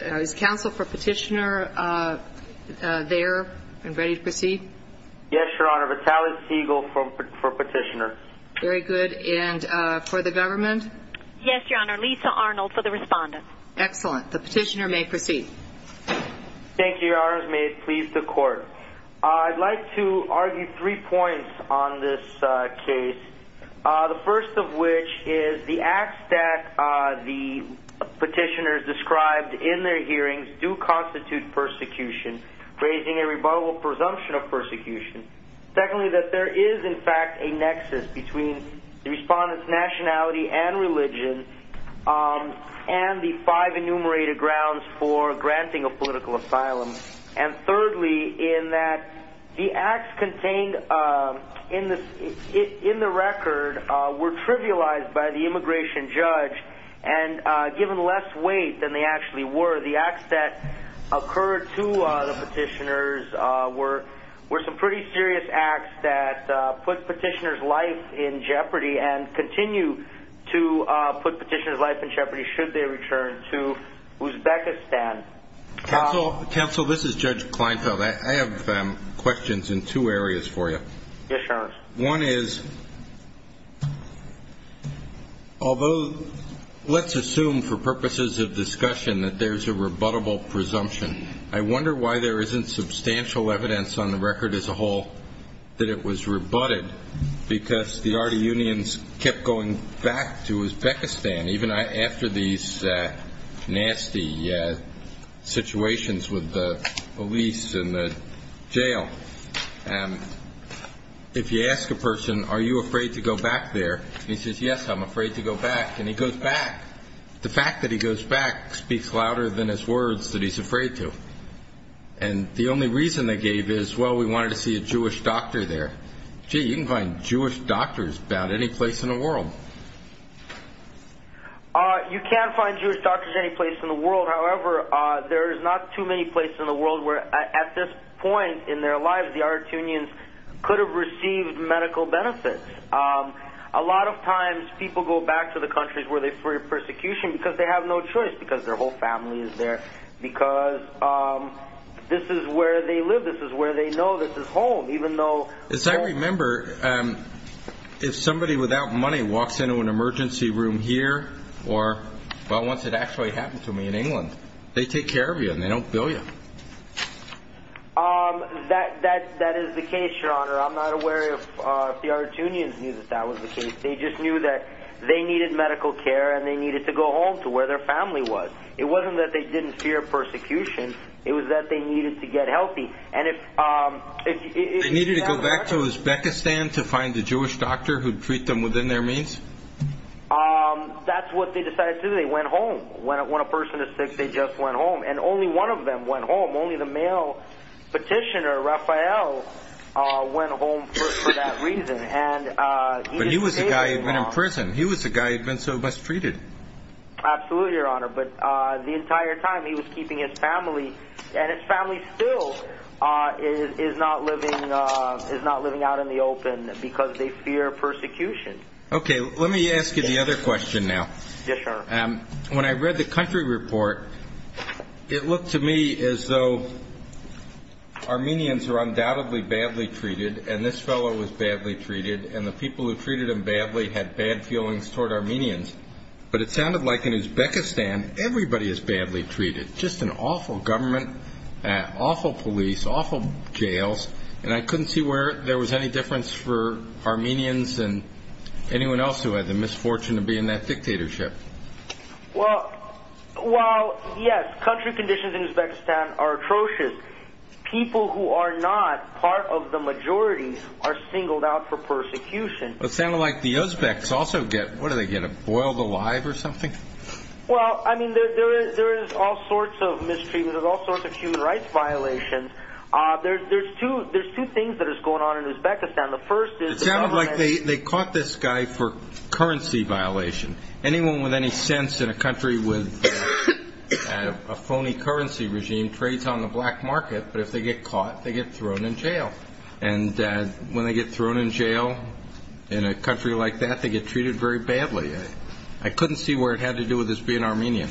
Is counsel for petitioner there and ready to proceed? Yes, your honor. It's Alex Siegel for petitioner. Very good. And for the government? Yes, your honor. Lisa Arnold for the respondent. Excellent. The petitioner may proceed. Thank you, your honors. May it please the court. I'd like to argue three points on this case. The first of which is the acts that the petitioners described in their hearings do constitute persecution, raising a rebuttable presumption of persecution. Secondly, that there is in fact a nexus between the respondent's nationality and religion and the five enumerated grounds for granting a political asylum. And thirdly, in that the acts contained in the record were trivialized by the immigration judge and given less weight than they actually were. The acts that occurred to the petitioners were some pretty serious acts that put petitioner's life in jeopardy and continue to put petitioner's life in jeopardy should they return to Uzbekistan. Counsel, this is Judge Kleinfeld. I have questions in two areas for you. Yes, your honor. One is, although let's assume for purposes of discussion that there's a rebuttable presumption, I wonder why there isn't substantial evidence on the record as a whole that it was rebutted because the Artiunians kept going back to Uzbekistan even after these nasty situations with the police and the jail. If you ask a person, are you afraid to go back there, he says, yes, I'm afraid to go back. And he goes back. The fact that he goes back speaks louder than his words that he's afraid to. And the only reason they gave is, well, we wanted to see a Jewish doctor there. Gee, you can find Jewish doctors about any place in the world. You can find Jewish doctors any place in the world. However, there's not too many places in the world where at this point in their lives, the Artiunians could have received medical benefits. A lot of times people go back to the countries where they've heard persecution because they have no choice because their whole family is there, because this is where they live. This is where they know this is home, even though As I remember, if somebody without money walks into an emergency room here, or, well, once it actually happened to me in England, they take care of you and they don't bill you. That is the case, Your Honor. I'm not aware if the Artiunians knew that that was the case. They just knew that they needed medical care and they needed to go home to where their family was. It wasn't that they didn't fear persecution. It was that they needed to get healthy. They needed to go back to Uzbekistan to find a Jewish doctor who'd treat them within their means? That's what they decided to do. They went home. When a person is sick, they just went home, and only one of them went home. Only the male petitioner, Raphael, went home for that reason. But he was the guy who'd been in prison. He was the guy who'd been so mistreated. Absolutely, Your Honor. But the entire time he was keeping his family, and his family still is not living out in the open because they fear persecution. Okay. Let me ask you the other question now. Yes, Your Honor. When I read the country report, it looked to me as though Armenians were undoubtedly badly treated, and this fellow was badly treated, and the people who treated him badly had bad feelings toward Armenians. But it sounded like in Uzbekistan, everybody is badly treated. Just an awful government, awful police, awful jails, and I couldn't see where there was any difference for Armenians and anyone else who had the misfortune of being in that dictatorship. Well, yes, country conditions in Uzbekistan are atrocious. People who are not part of the majority are singled out for persecution. It sounded like the Uzbeks also get, what do they get, a boiled alive or something? Well, I mean, there is all sorts of mistreatment. There's all sorts of human rights violations. There's two things that is going on in Uzbekistan. The first is the government It sounded like they caught this guy for currency violation. Anyone with any sense in a country with a phony currency regime trades on the black market, and when they get thrown in jail in a country like that, they get treated very badly. I couldn't see where it had to do with his being Armenian.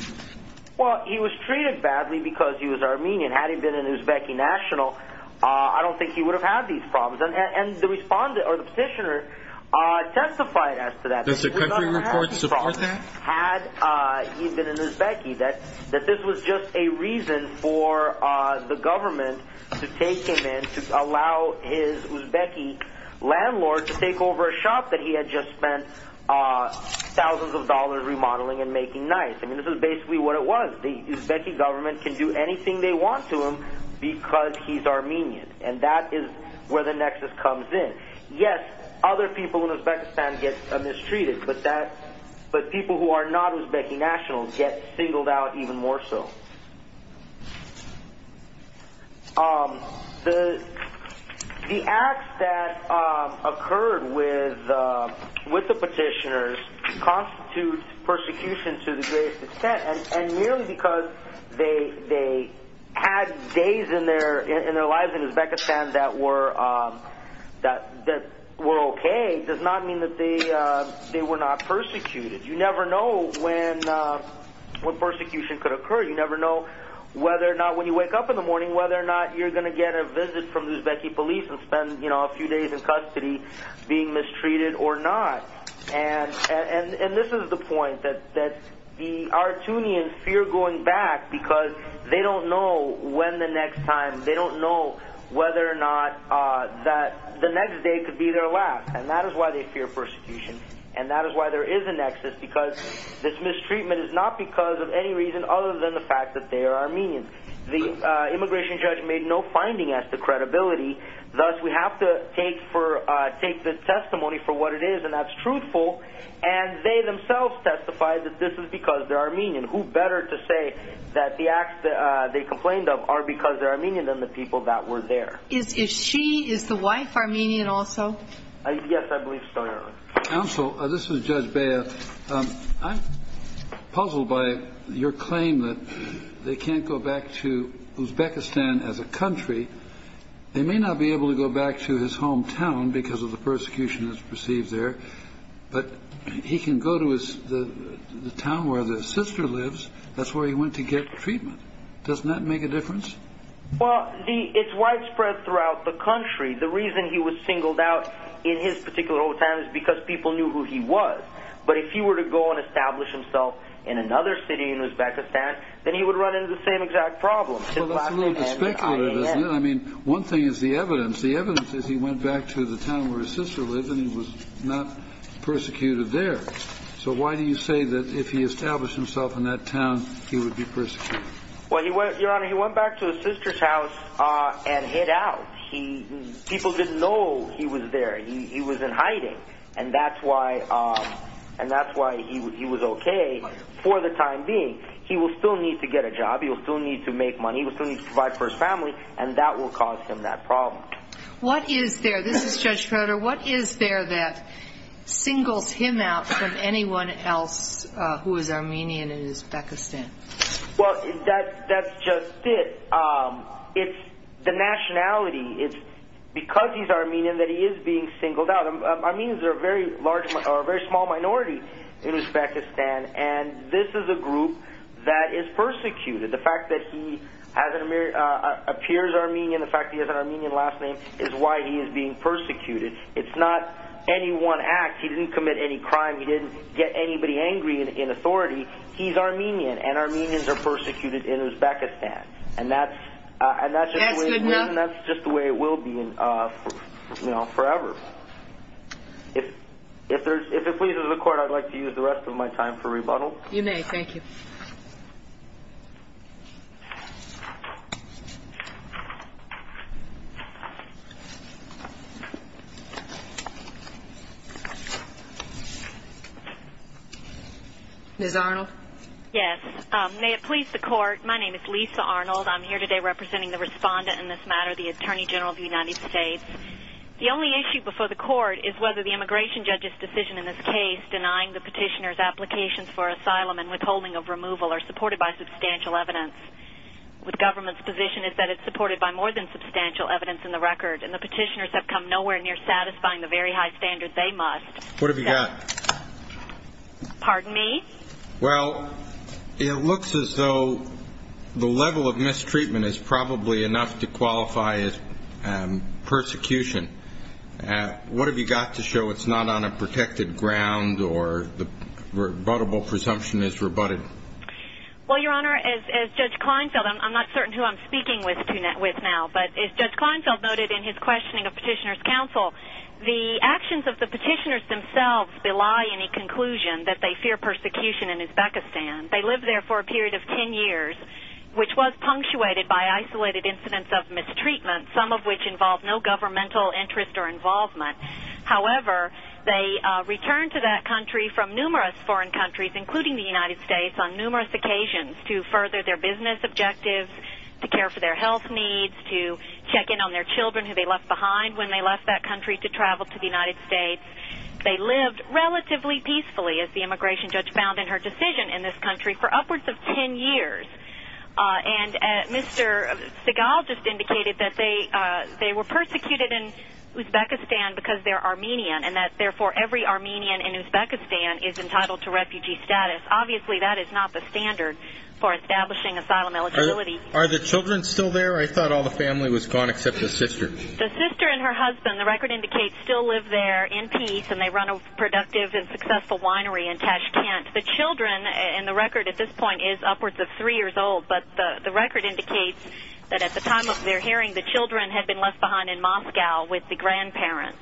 Well, he was treated badly because he was Armenian. Had he been a Uzbek national, I don't think he would have had these problems. And the petitioner testified as to that. Does the country report support that? Had he been an Uzbek, that this was just a reason for the government to take him in, to allow his Uzbek landlord to take over a shop that he had just spent thousands of dollars remodeling and making nice. I mean, this is basically what it was. The Uzbek government can do anything they want to him because he's Armenian. And that is where the nexus comes in. Yes, other people in Uzbekistan get mistreated, but people who are not Uzbek nationals get singled out even more so. The acts that occurred with the petitioners constitute persecution to the greatest extent, and merely because they had days in their lives in Uzbekistan that were okay does not mean that they were not persecuted. You never know when persecution could occur. You never know whether or not when you wake up in the morning, whether or not you're going to get a visit from the Uzbek police and spend a few days in custody being mistreated or not. And this is the point, that the Artunians fear going back because they don't know when the next time, they don't know whether or not the next day could be their last. And that is why they fear persecution. And that is why there is a nexus, because this mistreatment is not because of any reason other than the fact that they are Armenian. The immigration judge made no finding as to credibility, thus we have to take the testimony for what it is, and that's truthful, and they themselves testified that this is because they're Armenian. Who better to say that the acts that they complained of are because they're Armenian than the people that were there? Is she, is the wife Armenian also? Yes, I believe so, Your Honor. Counsel, this is Judge Bea. I'm puzzled by your claim that they can't go back to Uzbekistan as a country. They may not be able to go back to his hometown because of the persecution that's perceived there, but he can go to the town where his sister lives. That's where he went to get treatment. Doesn't that make a difference? Well, it's widespread throughout the country. The reason he was singled out in his particular hometown is because people knew who he was. But if he were to go and establish himself in another city in Uzbekistan, then he would run into the same exact problem. Well, that's a little bit speculative, isn't it? I mean, one thing is the evidence. The evidence is he went back to the town where his sister lives, and he was not persecuted there. So why do you say that if he established himself in that town, he would be persecuted? Well, Your Honor, he went back to his sister's house and hid out. People didn't know he was there. He was in hiding, and that's why he was okay for the time being. He will still need to get a job. He will still need to make money. He will still need to provide for his family, and that will cause him that problem. What is there? This is Judge Fodor. What is there that singles him out from anyone else who is Armenian in Uzbekistan? Well, that's just it. It's the nationality. It's because he's Armenian that he is being singled out. Armenians are a very small minority in Uzbekistan, and this is a group that is persecuted. The fact that he appears Armenian, the fact that he has an Armenian last name, is why he is being persecuted. It's not any one act. He didn't commit any crime. He didn't get anybody angry in authority. He's Armenian, and Armenians are persecuted in Uzbekistan, and that's just the way it will be forever. If it pleases the Court, I'd like to use the rest of my time for rebuttal. You may. Thank you. Ms. Arnold? Yes. May it please the Court, my name is Lisa Arnold. I'm here today representing the respondent in this matter, the Attorney General of the United States. The only issue before the Court is whether the immigration judge's decision in this case, denying the petitioner's applications for asylum and withholding of removal, are supported by substantial evidence. The government's position is that it's supported by more than substantial evidence in the record, and the petitioners have come nowhere near satisfying the very high standard they must. What have you got? Pardon me? Well, it looks as though the level of mistreatment is probably enough to qualify as persecution. What have you got to show it's not on a protected ground or the rebuttable presumption is rebutted? Well, Your Honor, as Judge Kleinfeld, I'm not certain who I'm speaking with now, but as Judge Kleinfeld noted in his questioning of Petitioner's Counsel, the actions of the petitioners themselves belie any conclusion that they fear persecution in Uzbekistan. They lived there for a period of 10 years, which was punctuated by isolated incidents of mistreatment, some of which involved no governmental interest or involvement. However, they returned to that country from numerous foreign countries, including the United States, on numerous occasions to further their business objectives, to care for their health needs, to check in on their children who they left behind when they left that country to travel to the United States. They lived relatively peacefully, as the immigration judge found in her decision, in this country for upwards of 10 years. And Mr. Segal just indicated that they were persecuted in Uzbekistan because they're Armenian, and that therefore every Armenian in Uzbekistan is entitled to refugee status. Obviously, that is not the standard for establishing asylum eligibility. Are the children still there? I thought all the family was gone except the sister. The sister and her husband, the record indicates, still live there in peace, and they run a productive and successful winery in Tashkent. The children, and the record at this point is upwards of 3 years old, but the record indicates that at the time of their hearing, the children had been left behind in Moscow with the grandparents.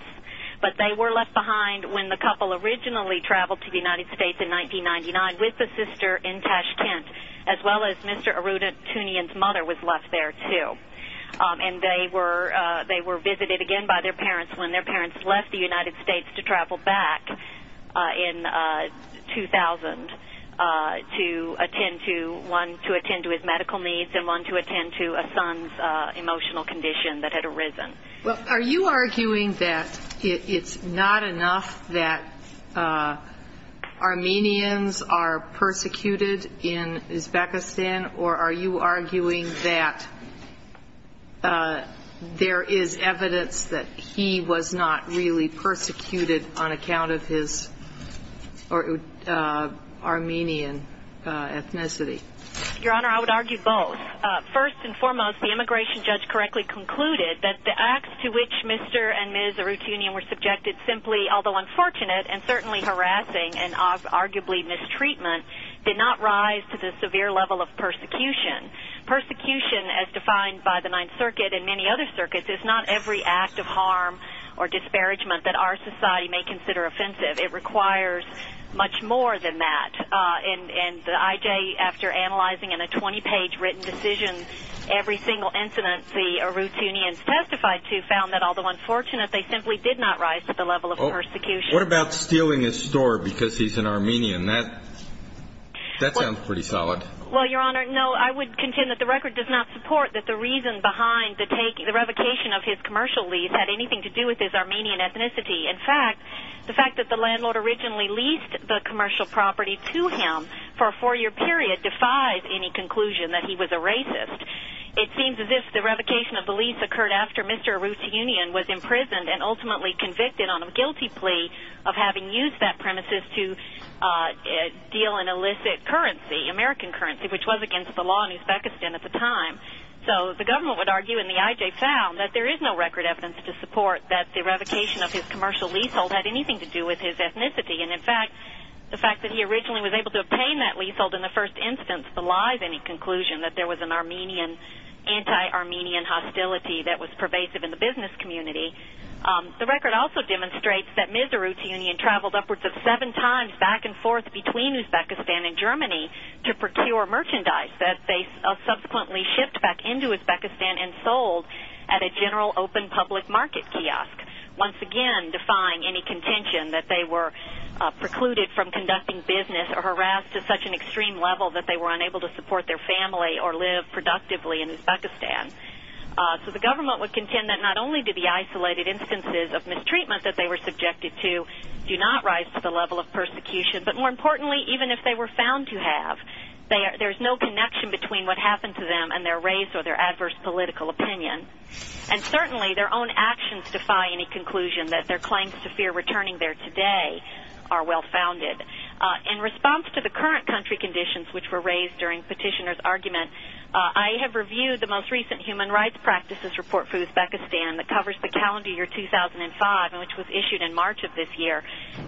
But they were left behind when the couple originally traveled to the United States in 1999 with the sister in Tashkent, as well as Mr. Arunatunian's mother was left there, too. And they were visited again by their parents when their parents left the United States to travel back in 2000 to attend to his medical needs and one to attend to a son's emotional condition that had arisen. Well, are you arguing that it's not enough that Armenians are persecuted in Uzbekistan, or are you arguing that there is evidence that he was not really persecuted on account of his Armenian ethnicity? Your Honor, I would argue both. First and foremost, the immigration judge correctly concluded that the acts to which Mr. and Ms. Arunatunian were subjected simply, although unfortunate and certainly harassing and arguably mistreatment, did not rise to the severe level of persecution. Persecution, as defined by the Ninth Circuit and many other circuits, is not every act of harm or disparagement that our society may consider offensive. It requires much more than that. And the IJ, after analyzing in a 20-page written decision every single incident the Arunatunians testified to, found that, although unfortunate, they simply did not rise to the level of persecution. What about stealing his store because he's an Armenian? That sounds pretty solid. Well, Your Honor, no, I would contend that the record does not support that the reason behind the revocation of his commercial lease had anything to do with his Armenian ethnicity. In fact, the fact that the landlord originally leased the commercial property to him for a four-year period defies any conclusion that he was a racist. It seems as if the revocation of the lease occurred after Mr. Arunatunian was imprisoned and ultimately convicted on a guilty plea of having used that premises to deal in illicit currency, American currency, which was against the law in Uzbekistan at the time. So the government would argue, and the IJ found, that there is no record evidence to support that the revocation of his commercial leasehold had anything to do with his ethnicity. And, in fact, the fact that he originally was able to obtain that leasehold in the first instance belies any conclusion that there was an Armenian, anti-Armenian hostility that was pervasive in the business community. The record also demonstrates that Mr. Arunatunian traveled upwards of seven times back and forth between Uzbekistan and Germany to procure merchandise that they subsequently shipped back into Uzbekistan and sold at a general open public market kiosk, once again defying any contention that they were precluded from conducting business or harassed to such an extreme level that they were unable to support their family or live productively in Uzbekistan. So the government would contend that not only did the isolated instances of mistreatment that they were subjected to do not rise to the level of persecution, but, more importantly, even if they were found to have, there is no connection between what happened to them and their race or their adverse political opinion. And, certainly, their own actions defy any conclusion that their claims to fear returning there today are well founded. In response to the current country conditions which were raised during Petitioner's argument, I have reviewed the most recent Human Rights Practices Report for Uzbekistan that covers the calendar year 2005, and which was issued in March of this year.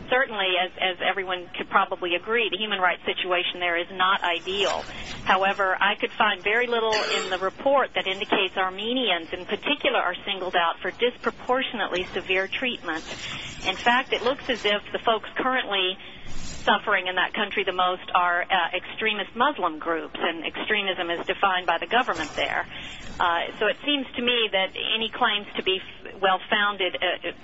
Certainly, as everyone could probably agree, the human rights situation there is not ideal. However, I could find very little in the report that indicates Armenians, in particular, are singled out for disproportionately severe treatment. In fact, it looks as if the folks currently suffering in that country the most are extremist Muslim groups, and extremism is defined by the government there. So it seems to me that any claims to be well founded,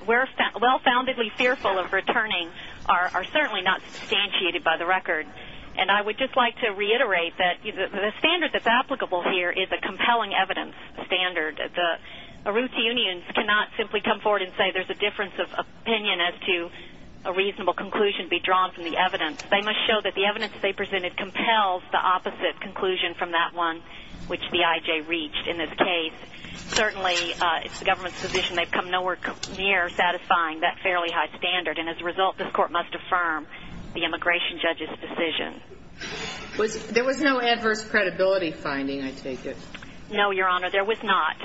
well-foundedly fearful of returning, are certainly not substantiated by the record. And I would just like to reiterate that the standard that's applicable here is a compelling evidence standard. The Aruti unions cannot simply come forward and say there's a difference of opinion as to a reasonable conclusion be drawn from the evidence. They must show that the evidence they presented compels the opposite conclusion from that one, which the IJ reached in this case. Certainly, it's the government's position they've come nowhere near satisfying that fairly high standard, and as a result, this court must affirm the immigration judge's decision. There was no adverse credibility finding, I take it? No, Your Honor, there was not.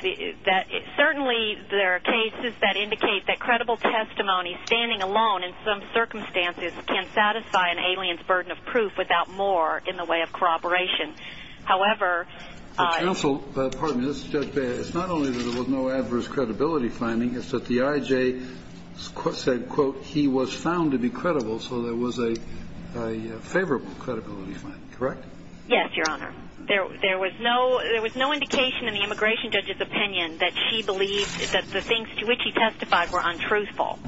Certainly, there are cases that indicate that credible testimony, standing alone in some circumstances, can satisfy an alien's burden of proof without more in the way of corroboration. However, Counsel, pardon me, this is Judge Baer. It's not only that there was no adverse credibility finding, it's that the IJ said, quote, he was found to be credible, so there was a favorable credibility finding, correct? Yes, Your Honor. There was no indication in the immigration judge's opinion that the things to which he testified were untruthful.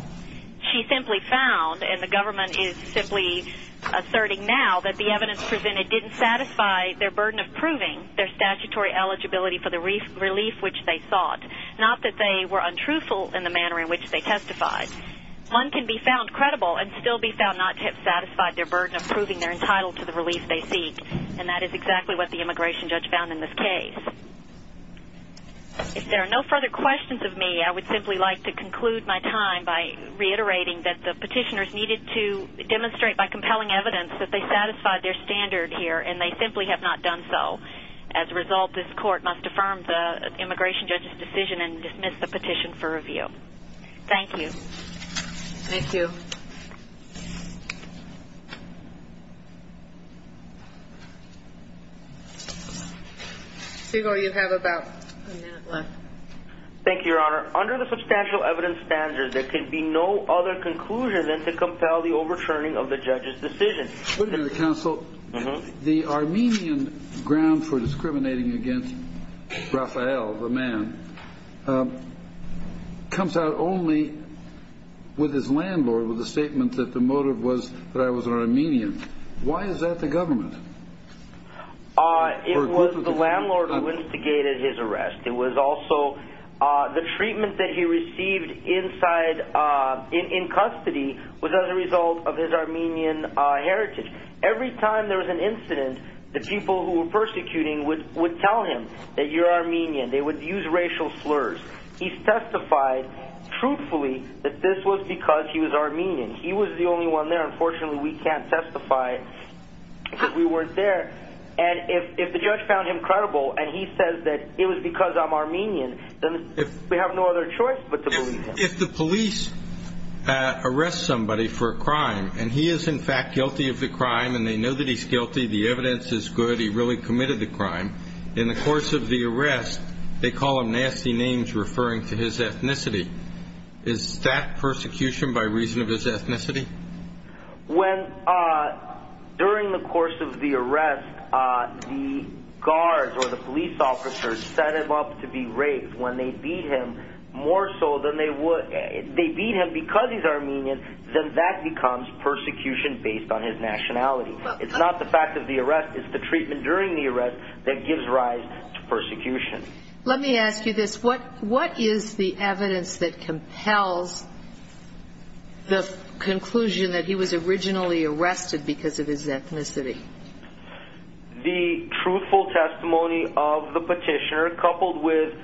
She simply found, and the government is simply asserting now, that the evidence presented didn't satisfy their burden of proving their statutory eligibility for the relief which they sought, not that they were untruthful in the manner in which they testified. One can be found credible and still be found not to have satisfied their burden of proving they're entitled to the relief they seek, and that is exactly what the immigration judge found in this case. If there are no further questions of me, I would simply like to conclude my time by reiterating that the petitioners needed to demonstrate by compelling evidence that they satisfied their standard here, and they simply have not done so. As a result, this court must affirm the immigration judge's decision and dismiss the petition for review. Thank you. Thank you. Hugo, you have about a minute left. Thank you, Your Honor. Under the substantial evidence standard, there can be no other conclusion than to compel the overturning of the judge's decision. Wait a minute, counsel. The Armenian ground for discriminating against Rafael, the man, comes out only with his landlord with the statement that the motive was that I was an Armenian. Why is that the government? It was the landlord who instigated his arrest. It was also the treatment that he received in custody was as a result of his Armenian heritage. Every time there was an incident, the people who were persecuting would tell him that you're Armenian. They would use racial slurs. He testified truthfully that this was because he was Armenian. He was the only one there. Unfortunately, we can't testify because we weren't there. And if the judge found him credible and he says that it was because I'm Armenian, then we have no other choice but to believe him. If the police arrest somebody for a crime and he is, in fact, guilty of the crime and they know that he's guilty, the evidence is good, he really committed the crime, in the course of the arrest, they call him nasty names referring to his ethnicity. Is that persecution by reason of his ethnicity? During the course of the arrest, the guards or the police officers set him up to be raped. When they beat him, more so than they would if they beat him because he's Armenian, then that becomes persecution based on his nationality. It's not the fact of the arrest. It's the treatment during the arrest that gives rise to persecution. Let me ask you this. What is the evidence that compels the conclusion that he was originally arrested because of his ethnicity? The truthful testimony of the petitioner coupled with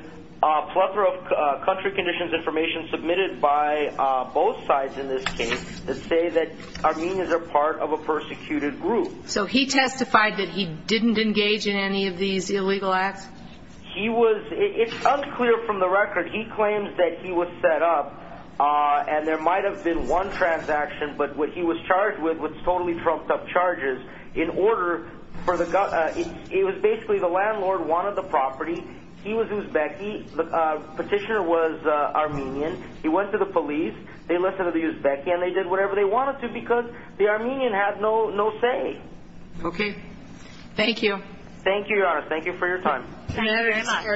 a plethora of country conditions information submitted by both sides in this case that say that Armenians are part of a persecuted group. So he testified that he didn't engage in any of these illegal acts? It's unclear from the record. He claims that he was set up and there might have been one transaction, but what he was charged with was totally trumped up charges. It was basically the landlord wanted the property. He was Uzbek, the petitioner was Armenian. He went to the police, they listened to the Uzbek, and they did whatever they wanted to because the Armenian had no say. Okay. Thank you. Thank you, Your Honor. Thank you for your time. Thank you very much.